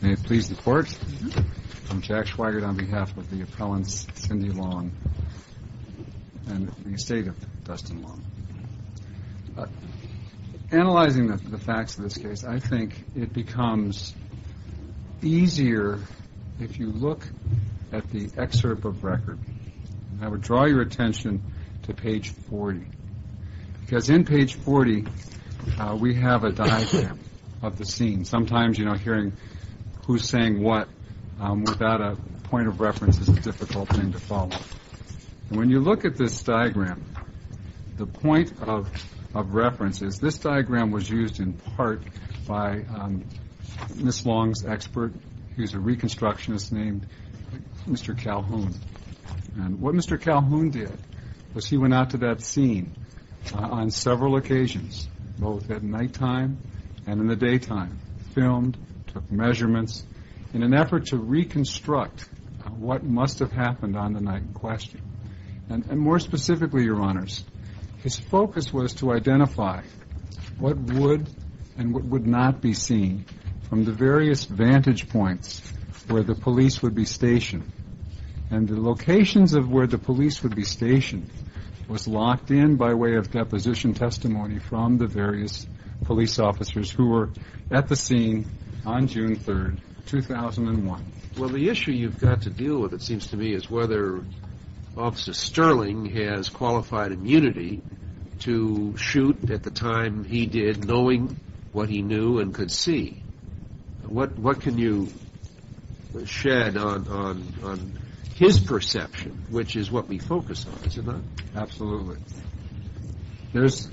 May it please the Court, I'm Jack Schweigert on behalf of the appellants, Cindy Long and the estate of Dustin Long. Analyzing the facts of this case, I think it becomes easier if you look at the excerpt of record. I would draw your attention to page 40, because in page 40 we have a diagram of the scene. And sometimes, you know, hearing who's saying what without a point of reference is a difficult thing to follow. When you look at this diagram, the point of reference is this diagram was used in part by Ms. Long's expert, he's a reconstructionist named Mr. Calhoun. And what Mr. Calhoun did was he went out to that scene on several occasions, both at nighttime and in the daytime, filmed, took measurements, in an effort to reconstruct what must have happened on the night in question. And more specifically, Your Honors, his focus was to identify what would and what would not be seen from the various vantage points where the police would be stationed. And the locations of where the police would be stationed was locked in by way of deposition testimony from the various police officers who were at the scene on June 3, 2001. Well, the issue you've got to deal with, it seems to me, is whether Officer Sterling has qualified immunity to shoot at the time he did, knowing what he knew and could see. What can you shed on his perception, which is what we focus on, is it not? Absolutely. There's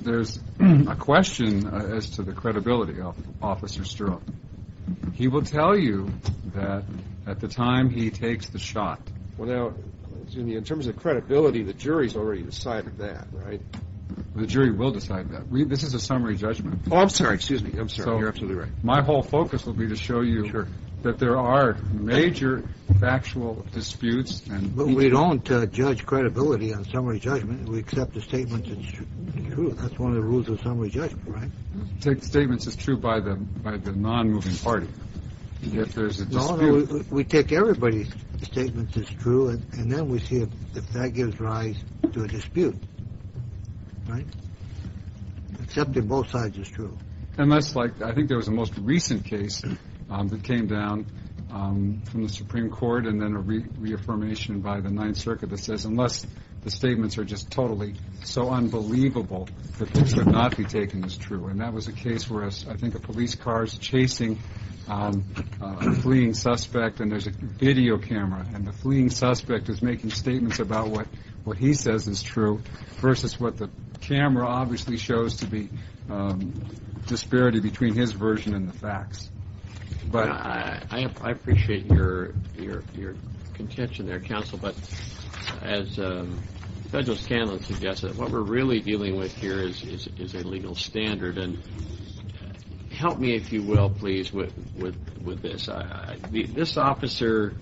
a question as to the credibility of Officer Sterling. He will tell you that at the time he takes the shot. Well, now, in terms of credibility, the jury's already decided that, right? The jury will decide that. This is a summary judgment. Oh, I'm sorry. Excuse me. I'm sorry. You're absolutely right. So my whole focus will be to show you that there are major factual disputes and... We accept the statements as true. That's one of the rules of summary judgment, right? We take the statements as true by the non-moving party. If there's a dispute... No, no. We take everybody's statements as true, and then we see if that gives rise to a dispute. Right? Accepting both sides as true. And that's like... I think there was a most recent case that came down from the Supreme Court and then a reaffirmation by the Ninth Circuit that says unless the statements are just totally so unbelievable that they should not be taken as true. And that was a case where I think a police car is chasing a fleeing suspect, and there's a video camera, and the fleeing suspect is making statements about what he says is true versus what the camera obviously shows to be disparity between his version and the facts. I appreciate your contention there, counsel. But as Federalist Candland suggests, what we're really dealing with here is a legal standard. And help me, if you will, please, with this. This officer...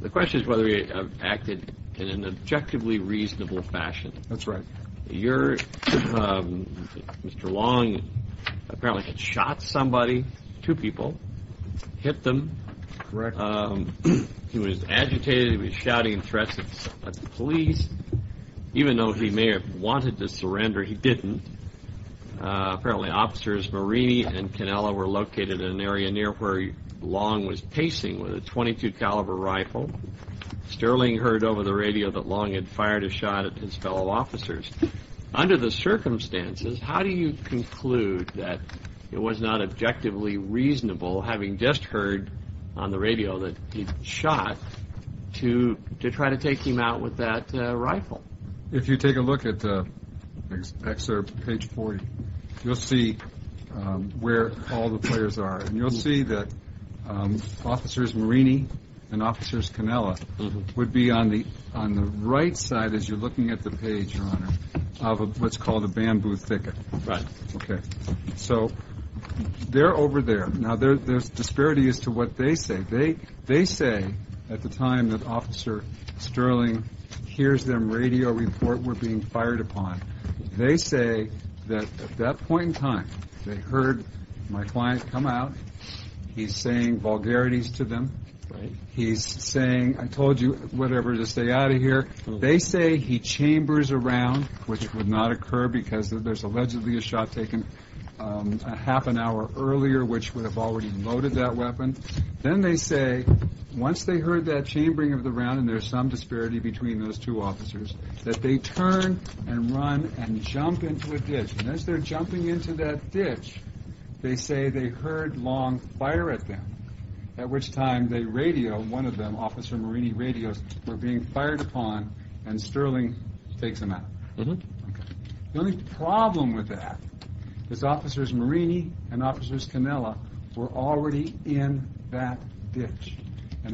The question is whether he acted in an objectively reasonable fashion. That's right. Your... Mr. Long apparently had shot somebody, two people, hit them. Correct. He was agitated. He was shouting threats at the police. Even though he may have wanted to surrender, he didn't. Apparently, Officers Marini and Cannella were located in an area near where Long was pacing with a .22 caliber rifle. Sterling heard over the radio that Long had fired a shot at his fellow officers. Under the circumstances, how do you conclude that it was not objectively reasonable, having just heard on the radio that he'd shot, to try to take him out with that rifle? If you take a look at the excerpt, page 40, you'll see where all the players are. You'll see that Officers Marini and Officers Cannella would be on the right side, as you're looking at the page, Your Honor, of what's called a bamboo thicket. Right. Okay. So, they're over there. Now, there's disparity as to what they say. They say, at the time that Officer Sterling hears them radio report we're being fired upon, they say that, at that point in time, they heard my client come out. He's saying vulgarities to them. Right. He's saying, I told you whatever to stay out of here. They say he chambers a round, which would not occur because there's allegedly a shot taken a half an hour earlier, which would have already loaded that weapon. Then they say, once they heard that chambering of the round, and there's some disparity between those two officers, that they turn and run and jump into a ditch. As they're jumping into that ditch, they say they heard long fire at them, at which time they radio, one of them, Officer Marini radios, we're being fired upon, and Sterling takes them out. The only problem with that is Officers Marini and Officers Cannella were already in that ditch.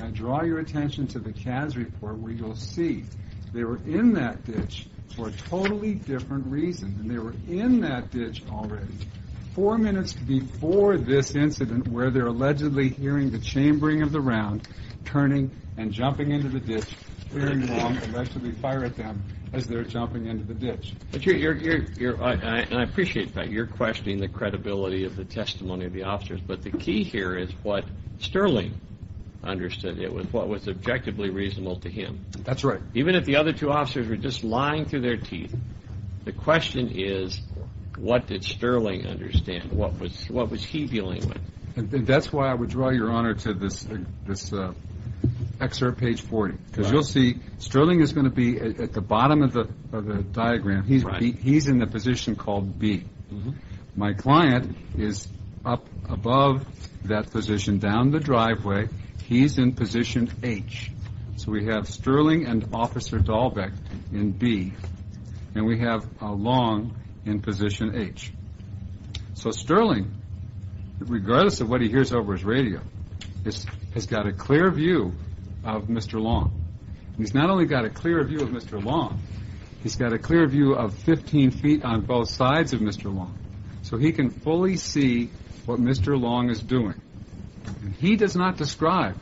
I draw your attention to the CAS report, where you'll see they were in that ditch for a totally different reason. They were in that ditch already, four minutes before this incident, where they're allegedly hearing the chambering of the round, turning and jumping into the ditch, hearing long allegedly fire at them as they're jumping into the ditch. I appreciate that. You're questioning the credibility of the testimony of the officers. The key here is what Sterling understood. It was what was objectively reasonable to him. Even if the other two officers were just lying through their teeth, the question is, what did Sterling understand? What was he dealing with? That's why I would draw your honor to this excerpt, page 40. You'll see Sterling is going to be at the bottom of the diagram. He's in the position called B. My client is up above that position down the driveway. He's in position H. We have Sterling and Officer Dahlbeck in B. We have Long in position H. Sterling, regardless of what he hears over his radio, has got a clear view of Mr. Long. He's not only got a clear view of Mr. Long, he's got a clear view of 15 feet on both sides of Mr. Long, so he can fully see what Mr. Long is doing. He does not describe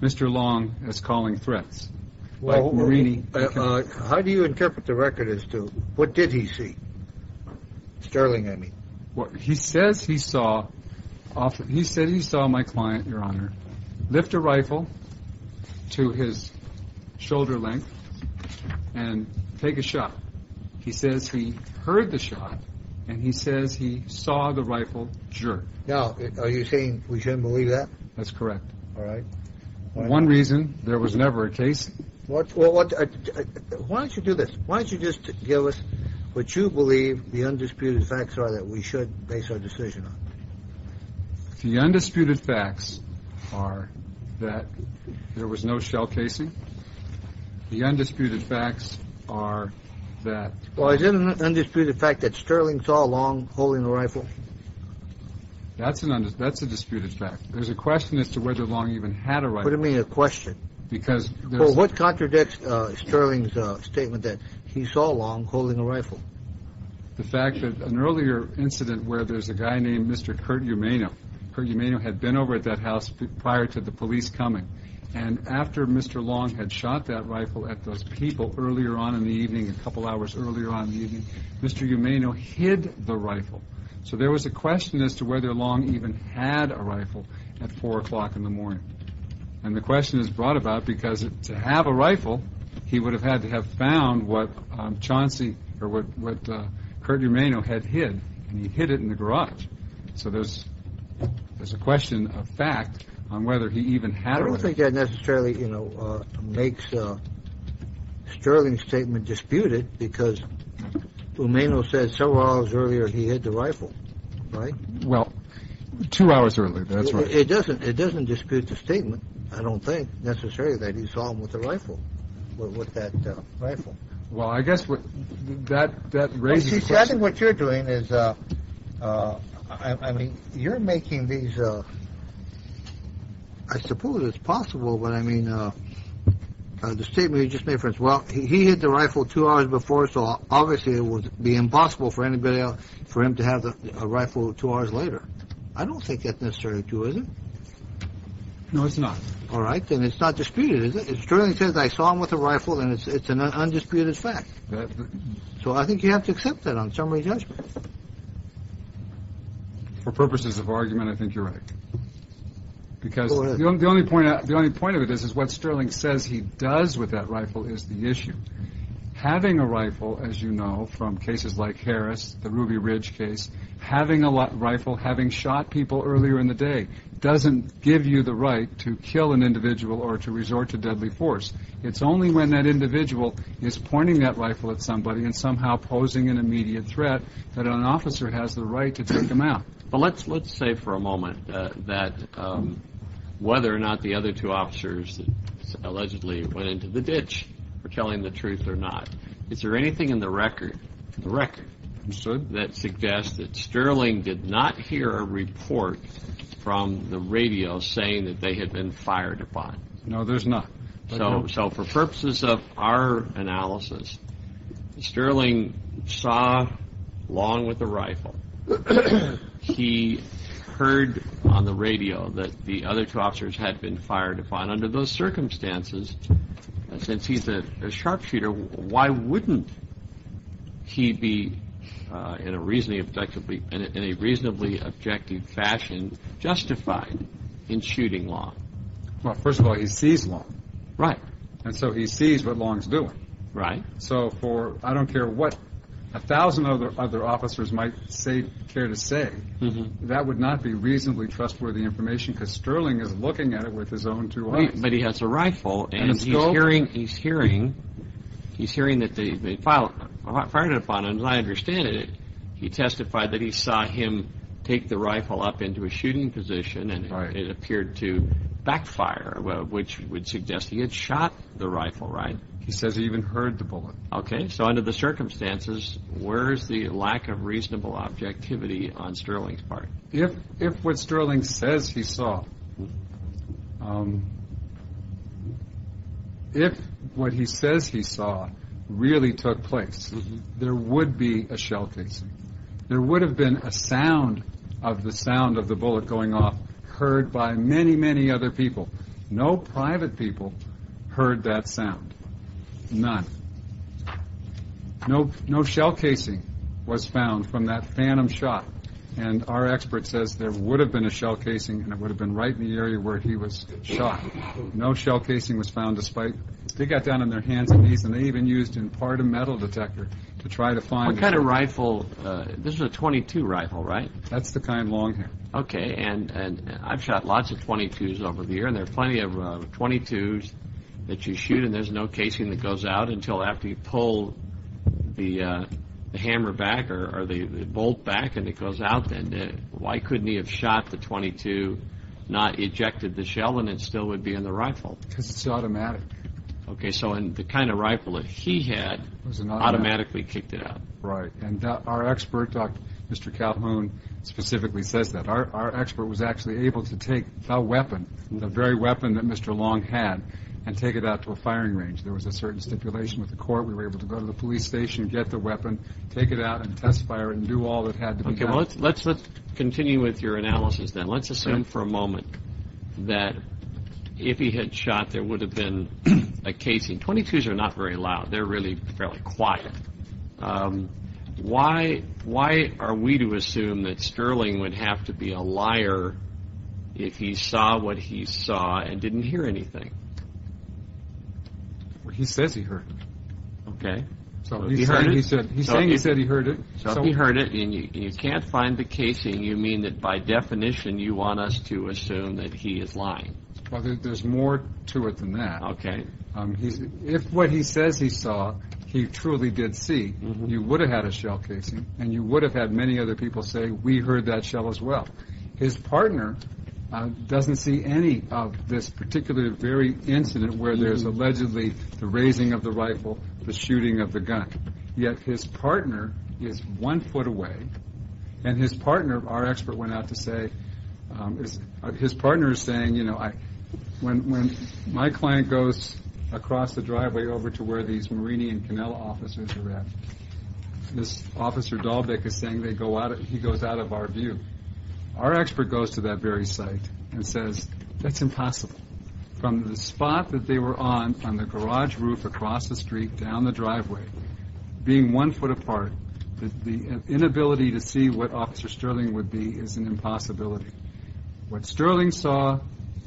Mr. Long as calling threats. How do you interpret the record as to what did he see? Sterling, I mean. He says he saw my client, your honor, lift a rifle to his shoulder length and take a shot. He says he heard the shot and he says he saw the rifle jerk. Now, are you saying we shouldn't believe that? That's correct. All right. One reason there was never a case. Well, why don't you do this? Why don't you just give us what you believe the undisputed facts are that we should base our decision on? The undisputed facts are that there was no shell casing. The undisputed facts are that. Well, is it an undisputed fact that Sterling saw Long holding a rifle? That's an undisputed. That's a disputed fact. There's a question as to whether Long even had a rifle. What do you mean a question? Because. Well, what contradicts Sterling's statement that he saw Long holding a rifle? The fact that an earlier incident where there's a guy named Mr. Curt Umano. Curt Umano had been over at that house prior to the police coming. And after Mr. Long had shot that rifle at those people earlier on in the evening, a couple hours earlier on in the evening, Mr. Umano hid the rifle. So there was a question as to whether Long even had a rifle at 4 o'clock in the morning. And the question is brought about because to have a rifle, he would have had to have found what Curt Umano had hid. And he hid it in the garage. So there's a question of fact on whether he even had a rifle. I don't think that necessarily makes Sterling's statement disputed because Umano said several hours earlier he hid the rifle. Right? Well, two hours earlier. That's right. It doesn't dispute the statement, I don't think, necessarily, that he saw him with the rifle, with that rifle. Well, I guess that raises a question. See, I think what you're doing is, I mean, you're making these, I suppose it's possible, but I mean, the statement you just made, for instance, well, he hid the rifle two hours before, so obviously it would be impossible for anybody else, for him to have a rifle two hours later. I don't think that's necessary, too, is it? No, it's not. All right. Then it's not disputed, is it? Sterling says, I saw him with a rifle, and it's an undisputed fact. So I think you have to accept that on summary judgment. For purposes of argument, I think you're right. Because the only point of it is, is what Sterling says he does with that rifle is the issue. Having a rifle, as you know from cases like Harris, the Ruby Ridge case, having a rifle, having shot people earlier in the day, doesn't give you the right to kill an individual or to resort to deadly force. It's only when that individual is pointing that rifle at somebody and somehow posing an immediate threat that an officer has the right to take them out. But let's say for a moment that whether or not the other two officers allegedly went into the ditch for telling the truth or not, is there anything in the record that suggests that Sterling did not hear a report from the radio saying that they had been fired upon? No, there's not. So for purposes of our analysis, Sterling saw Long with a rifle. He heard on the radio that the other two officers had been fired upon. Under those circumstances, since he's a sharpshooter, why wouldn't he be in a reasonably objective fashion justified in shooting Long? Well, first of all, he sees Long. Right. And so he sees what Long's doing. Right. So for I don't care what a thousand other officers might care to say, that would not be reasonably trustworthy information because Sterling is looking at it with his own two eyes. But he has a rifle and he's hearing that they fired upon him. As I understand it, he testified that he saw him take the rifle up into a shooting position and it appeared to backfire, which would suggest he had shot the rifle. Right. He says he even heard the bullet. Okay. So under the circumstances, where is the lack of reasonable objectivity on Sterling's part? If what Sterling says he saw really took place, there would be a shell casing. There would have been a sound of the sound of the bullet going off heard by many, many other people. No private people heard that sound. None. No shell casing was found from that phantom shot. And our expert says there would have been a shell casing and it would have been right in the area where he was shot. No shell casing was found despite they got down on their hands and knees and they even used in part a metal detector to try to find it. What kind of rifle? This is a .22 rifle, right? That's the kind Long had. Okay. And I've shot lots of .22s over the years and there are plenty of .22s that you shoot and there's no casing that goes out until after you pull the hammer back or the bolt back and it goes out then. Why couldn't he have shot the .22, not ejected the shell and it still would be in the rifle? Because it's automatic. Okay. So the kind of rifle that he had automatically kicked it out. Right. And our expert, Mr. Calhoun, specifically says that. Our expert was actually able to take the weapon, the very weapon that Mr. Long had, and take it out to a firing range. There was a certain stipulation with the court. We were able to go to the police station and get the weapon, take it out and test fire it and do all that had to be done. Okay. Well, let's continue with your analysis then. Let's assume for a moment that if he had shot, there would have been a casing. .22s are not very loud. They're really fairly quiet. Why are we to assume that Sterling would have to be a liar if he saw what he saw and didn't hear anything? He says he heard. Okay. He's saying he said he heard it. So if he heard it and you can't find the casing, you mean that by definition you want us to assume that he is lying. Well, there's more to it than that. Okay. If what he says he saw he truly did see, you would have had a shell casing and you would have had many other people say we heard that shell as well. His partner doesn't see any of this particular very incident where there's allegedly the raising of the rifle, the shooting of the gun. Yet his partner is one foot away, and his partner, our expert went out to say, his partner is saying, you know, when my client goes across the driveway over to where these Marini and Cannella officers are at, this Officer Dahlbeck is saying he goes out of our view. Our expert goes to that very site and says that's impossible. From the spot that they were on, from the garage roof across the street, down the driveway, being one foot apart, the inability to see what Officer Sterling would be is an impossibility. What Sterling saw,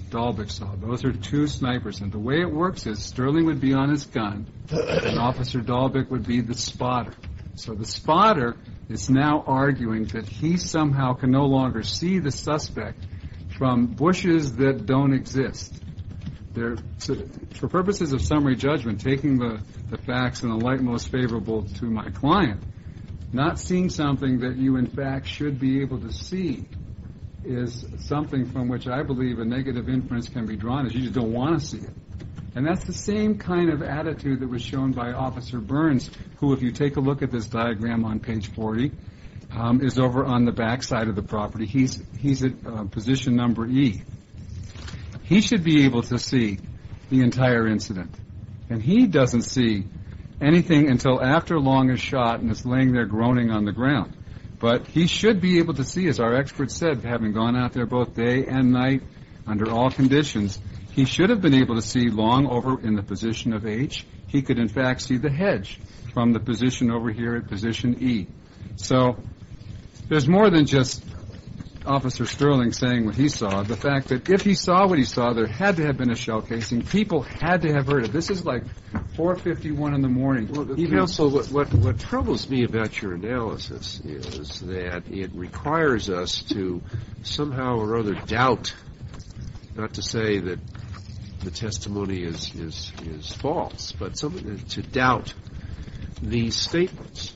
Dahlbeck saw. Those are two snipers, and the way it works is Sterling would be on his gun and Officer Dahlbeck would be the spotter. So the spotter is now arguing that he somehow can no longer see the suspect from bushes that don't exist. For purposes of summary judgment, taking the facts in the light most favorable to my client, not seeing something that you, in fact, should be able to see is something from which I believe a negative inference can be drawn. You just don't want to see it. That's the same kind of attitude that was shown by Officer Burns, who, if you take a look at this diagram on page 40, is over on the back side of the property. He's at position number E. He should be able to see the entire incident, and he doesn't see anything until after Long is shot and is laying there groaning on the ground. But he should be able to see, as our expert said, having gone out there both day and night under all conditions, he should have been able to see Long over in the position of H. He could, in fact, see the hedge from the position over here at position E. So there's more than just Officer Sterling saying what he saw. The fact that if he saw what he saw, there had to have been a shell casing. People had to have heard it. This is like 4.51 in the morning. Even also, what troubles me about your analysis is that it requires us to somehow or other doubt, not to say that the testimony is false, but to doubt these statements.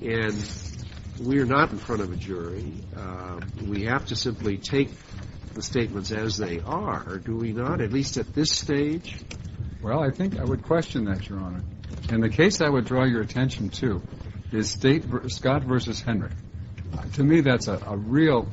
And we are not in front of a jury. We have to simply take the statements as they are, do we not, at least at this stage? Well, I think I would question that, Your Honor. And the case I would draw your attention to is Scott v. Hendrick. To me, that's a real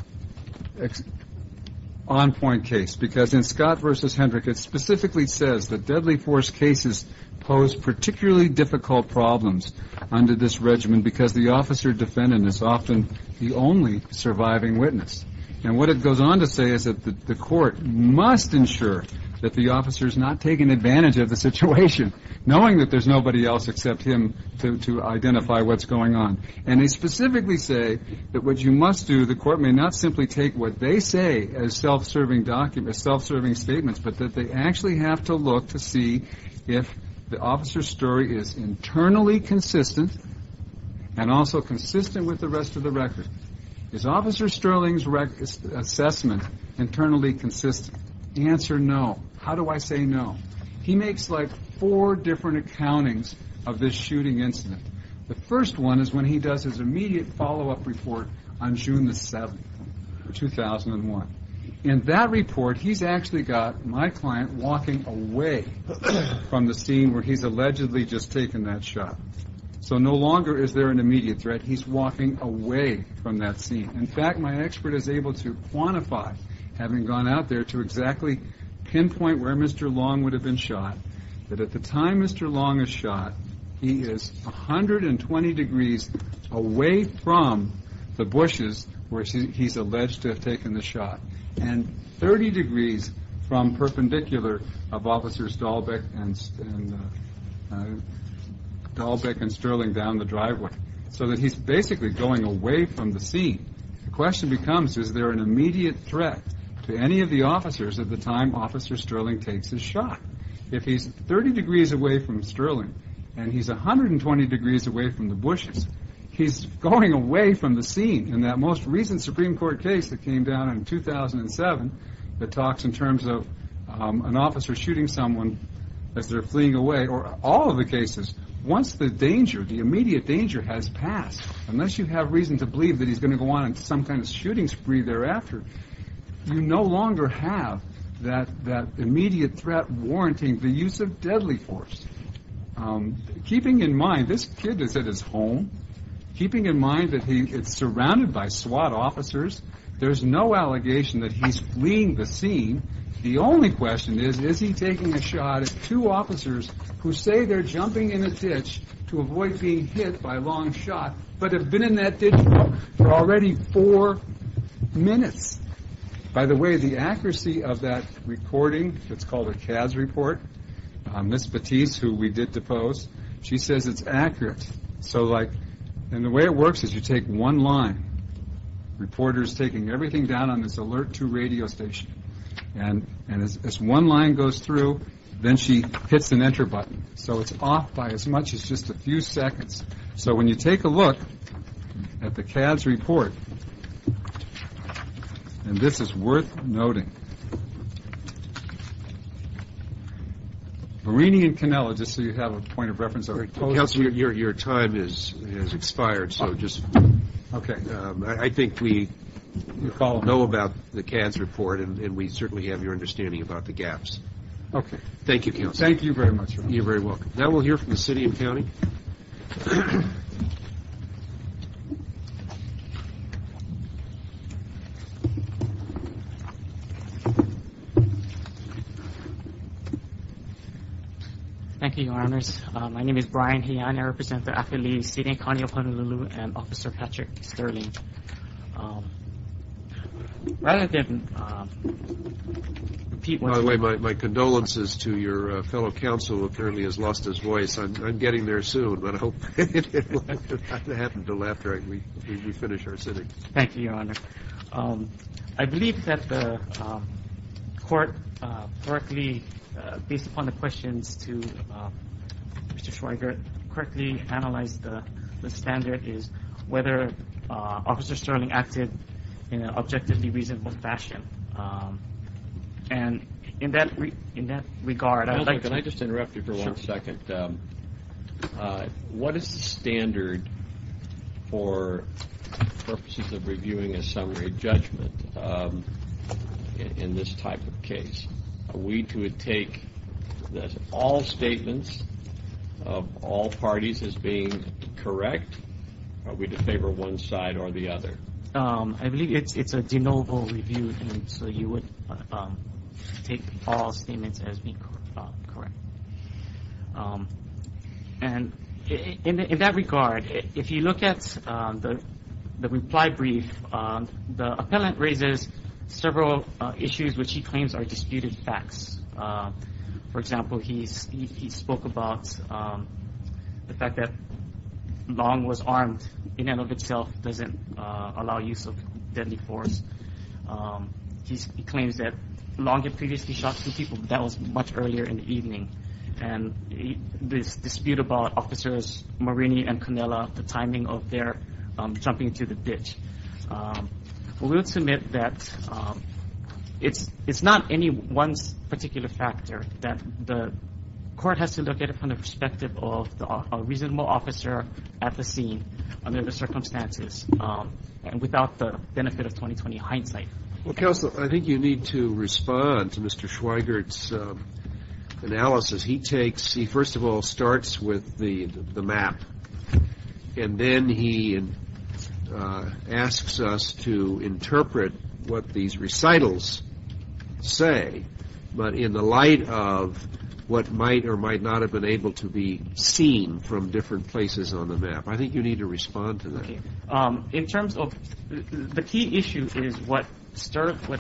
on-point case because in Scott v. Hendrick, it specifically says that deadly force cases pose particularly difficult problems under this regimen because the officer defendant is often the only surviving witness. And what it goes on to say is that the court must ensure that the officer is not taking advantage of the situation, knowing that there's nobody else except him to identify what's going on. And they specifically say that what you must do, the court may not simply take what they say as self-serving statements, but that they actually have to look to see if the officer's story is internally consistent and also consistent with the rest of the record. Is Officer Sterling's assessment internally consistent? The answer, no. How do I say no? He makes like four different accountings of this shooting incident. The first one is when he does his immediate follow-up report on June 7, 2001. In that report, he's actually got my client walking away from the scene where he's allegedly just taken that shot. So no longer is there an immediate threat. He's walking away from that scene. In fact, my expert is able to quantify, having gone out there to exactly pinpoint where Mr. Long would have been shot, that at the time Mr. Long is shot, he is 120 degrees away from the bushes where he's alleged to have taken the shot and 30 degrees from perpendicular of Officers Dahlbeck and Sterling down the driveway so that he's basically going away from the scene. The question becomes, is there an immediate threat to any of the officers at the time Officer Sterling takes his shot? If he's 30 degrees away from Sterling and he's 120 degrees away from the bushes, he's going away from the scene. In that most recent Supreme Court case that came down in 2007 that talks in terms of an officer shooting someone as they're fleeing away, or all of the cases, once the immediate danger has passed, unless you have reason to believe that he's going to go on some kind of shooting spree thereafter, you no longer have that immediate threat warranting the use of deadly force. Keeping in mind, this kid is at his home. Keeping in mind that he is surrounded by SWAT officers, there's no allegation that he's fleeing the scene. The only question is, is he taking a shot at two officers who say they're jumping in a ditch to avoid being hit by Long's shot, but have been in that ditch for already four minutes? By the way, the accuracy of that recording, it's called a CAS report, Ms. Batiste, who we did depose, she says it's accurate. The way it works is you take one line, reporter's taking everything down on this alert to radio station, and as one line goes through, then she hits an enter button. So it's off by as much as just a few seconds. So when you take a look at the CAS report, and this is worth noting, Marini and Canella, just so you have a point of reference. Counselor, your time has expired. Okay. I think we all know about the CAS report, and we certainly have your understanding about the gaps. Okay. Thank you, Counselor. Thank you very much. You're very welcome. Now we'll hear from the city and county. Thank you, Your Honors. My name is Brian Heon. I represent the Akeli City and County of Honolulu, and Officer Patrick Sterling. Rather than repeat what you just said. By the way, my condolences to your fellow counsel, who apparently has lost his voice. I'm getting there soon, but I hope it won't happen until after we finish our sitting. Thank you, Your Honor. I believe that the court correctly, based upon the questions to Mr. Schweiger, correctly analyzed the standard is whether Officer Sterling acted in an objectively reasonable fashion. And in that regard, I'd like to. Can I just interrupt you for one second? Sure. What is the standard for purposes of reviewing a summary judgment in this type of case? Are we to take all statements of all parties as being correct? Are we to favor one side or the other? I believe it's a de novo review, so you would take all statements as being correct. And in that regard, if you look at the reply brief, the appellant raises several issues which he claims are disputed facts. For example, he spoke about the fact that Long was armed in and of itself, doesn't allow use of deadly force. He claims that Long had previously shot two people, but that was much earlier in the evening. And this dispute about Officers Marini and Canella, the timing of their jumping into the ditch. We will submit that it's not anyone's particular factor that the court has to look at it from the perspective of a reasonable officer at the scene under the circumstances and without the benefit of 20-20 hindsight. Well, Counselor, I think you need to respond to Mr. Schweigert's analysis. He takes, he first of all starts with the map, and then he asks us to interpret what these recitals say, but in the light of what might or might not have been able to be seen from different places on the map. I think you need to respond to that. In terms of, the key issue is what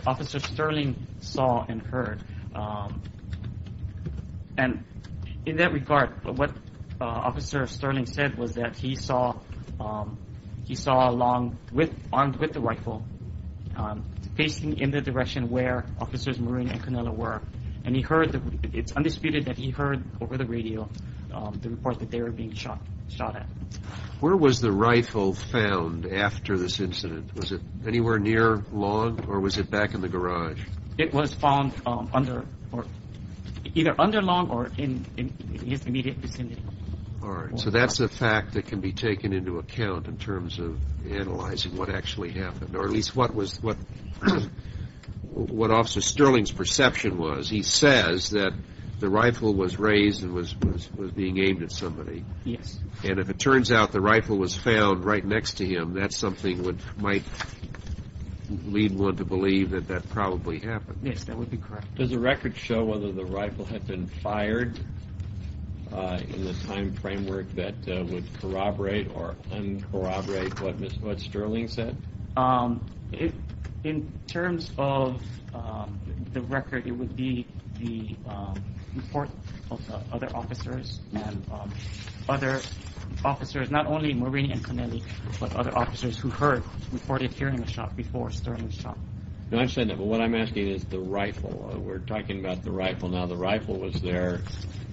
Officer Sterling saw and heard. And in that regard, what Officer Sterling said was that he saw Long armed with the rifle, facing in the direction where Officers Marini and Canella were, and he heard, it's undisputed that he heard over the radio the report that they were being shot at. Where was the rifle found after this incident? Was it anywhere near Long, or was it back in the garage? It was found either under Long or in his immediate vicinity. All right. So that's a fact that can be taken into account in terms of analyzing what actually happened, or at least what Officer Sterling's perception was. He says that the rifle was raised and was being aimed at somebody. Yes. And if it turns out the rifle was found right next to him, that's something that might lead one to believe that that probably happened. Yes, that would be correct. Does the record show whether the rifle had been fired in the time framework that would corroborate or corroborate what Sterling said? In terms of the record, it would be the report of other officers, and other officers, not only Marini and Canella, but other officers who heard reported hearing a shot before Sterling shot. I understand that, but what I'm asking is the rifle. We're talking about the rifle now. The rifle was there.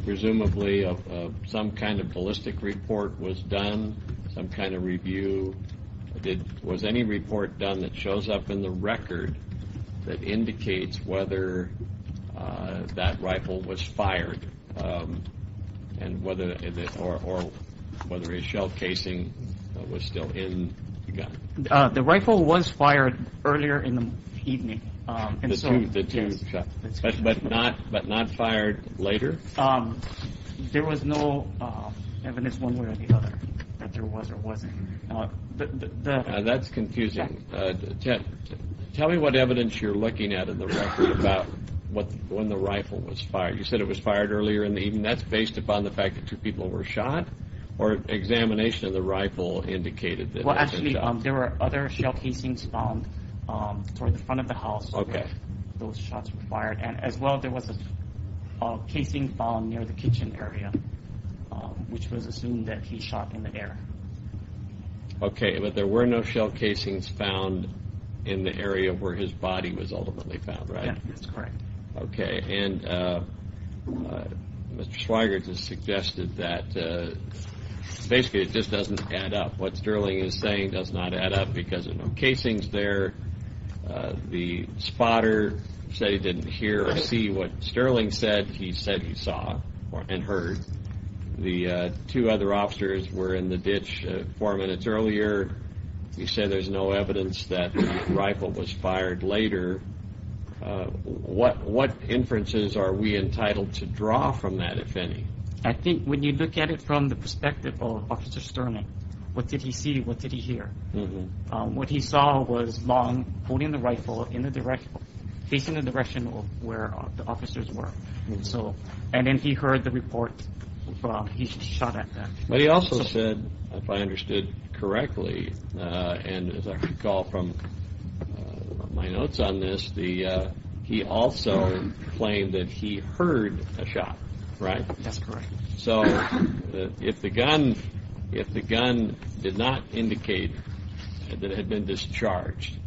Presumably some kind of ballistic report was done, some kind of review. Was any report done that shows up in the record that indicates whether that rifle was fired or whether a shell casing was still in the gun? The rifle was fired earlier in the evening. The two shots, but not fired later? There was no evidence one way or the other that there was or wasn't. That's confusing. Tell me what evidence you're looking at in the record about when the rifle was fired. You said it was fired earlier in the evening. That's based upon the fact that two people were shot? Or examination of the rifle indicated that it was a shot? Well, actually, there were other shell casings found toward the front of the house where those shots were fired. As well, there was a casing found near the kitchen area, which was assumed that he shot in the air. Okay, but there were no shell casings found in the area where his body was ultimately found, right? Yes, that's correct. Okay, and Mr. Schweiger just suggested that basically it just doesn't add up. What Sterling is saying does not add up because there are no casings there. The spotter said he didn't hear or see what Sterling said. He said he saw and heard. The two other officers were in the ditch four minutes earlier. You said there's no evidence that the rifle was fired later. What inferences are we entitled to draw from that, if any? I think when you look at it from the perspective of Officer Sterling, what did he see? What did he hear? What he saw was Long holding the rifle facing the direction of where the officers were. And then he heard the report from he shot at them. But he also said, if I understood correctly, and as I recall from my notes on this, he also claimed that he heard a shot, right? That's correct. So if the gun did not indicate that it had been discharged,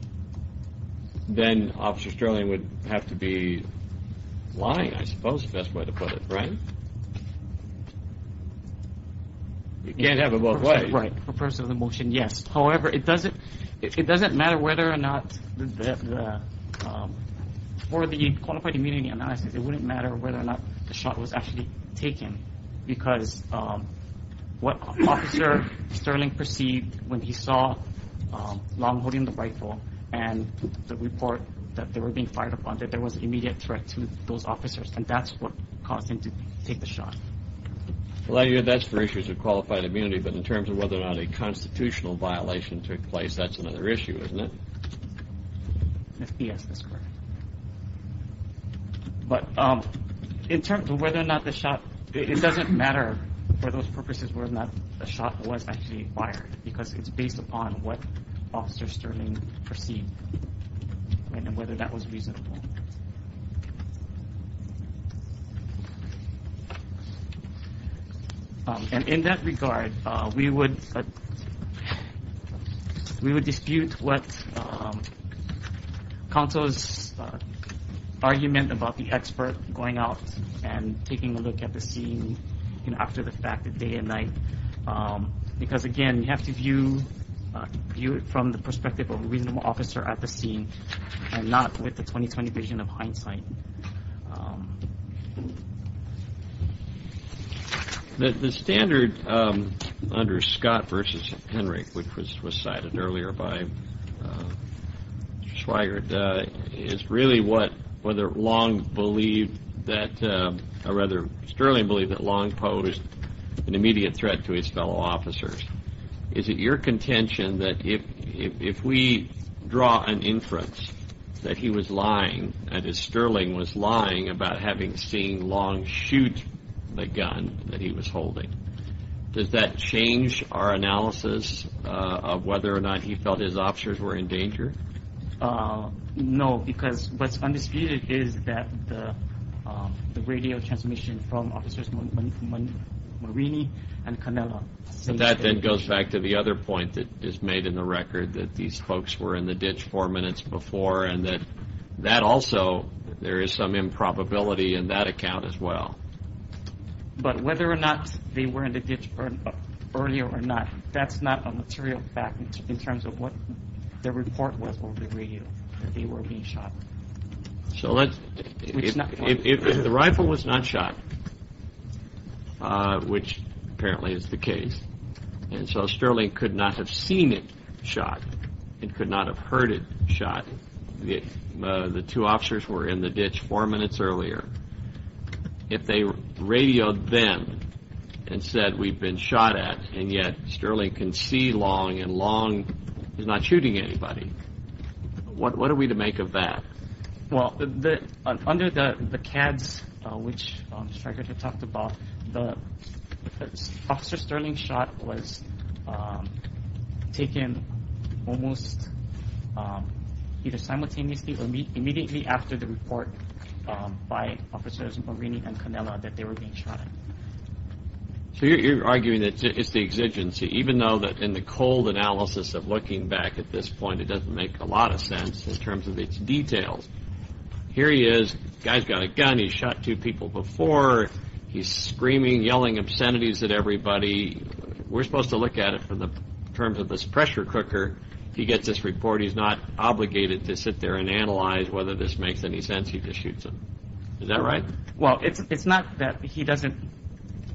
then Officer Sterling would have to be lying, I suppose is the best way to put it, right? You can't have it both ways. Right, for purpose of the motion, yes. However, it doesn't matter whether or not, for the qualified immunity analysis, it wouldn't matter whether or not the shot was actually taken because what Officer Sterling perceived when he saw Long holding the rifle and the report that they were being fired upon, that there was an immediate threat to those officers, and that's what caused him to take the shot. Well, that's for issues of qualified immunity, but in terms of whether or not a constitutional violation took place, that's another issue, isn't it? Yes, that's correct. But in terms of whether or not the shot, it doesn't matter for those purposes whether or not the shot was actually fired because it's based upon what Officer Sterling perceived and whether that was reasonable. And in that regard, we would dispute what counsel's argument about the expert going out and taking a look at the scene after the fact, day and night, because, again, you have to view it from the perspective of a reasonable officer at the scene and not with the 20-20 vision of hindsight. The standard under Scott v. Henry, which was cited earlier by Swigert, is really what Sterling believed that Long posed an immediate threat to his fellow officers. Is it your contention that if we draw an inference that he was lying and that Sterling was lying about having seen Long shoot the gun that he was holding, does that change our analysis of whether or not he felt his officers were in danger? No, because what's undisputed is that the radio transmission from Officers Marini and Canella So that then goes back to the other point that is made in the record, that these folks were in the ditch four minutes before and that also there is some improbability in that account as well. But whether or not they were in the ditch earlier or not, that's not a material fact in terms of what their report was over the radio that they were being shot. So if the rifle was not shot, which apparently is the case, and so Sterling could not have seen it shot, it could not have heard it shot. The two officers were in the ditch four minutes earlier. If they radioed them and said we've been shot at and yet Sterling can see Long and Long is not shooting anybody, what are we to make of that? Well, under the CADS, which Stryker had talked about, the officer Sterling shot was taken almost either simultaneously or immediately after the report by Officers Marini and Canella that they were being shot at. So you're arguing that it's the exigency, even though in the cold analysis of looking back at this point, it doesn't make a lot of sense in terms of its details. Here he is, guy's got a gun, he's shot two people before, he's screaming, yelling obscenities at everybody. We're supposed to look at it in terms of this pressure cooker. He gets this report, he's not obligated to sit there and analyze whether this makes any sense, he just shoots them. Is that right? Well, it's not that he doesn't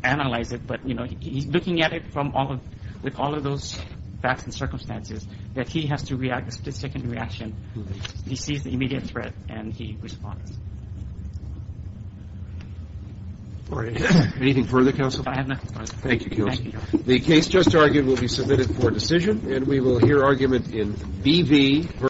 analyze it, but he's looking at it with all of those facts and circumstances that he has to react to the second reaction. He sees the immediate threat and he responds. Anything further, Counsel? I have nothing further. Thank you, Counsel. The case just argued will be submitted for decision and we will hear argument in B.V.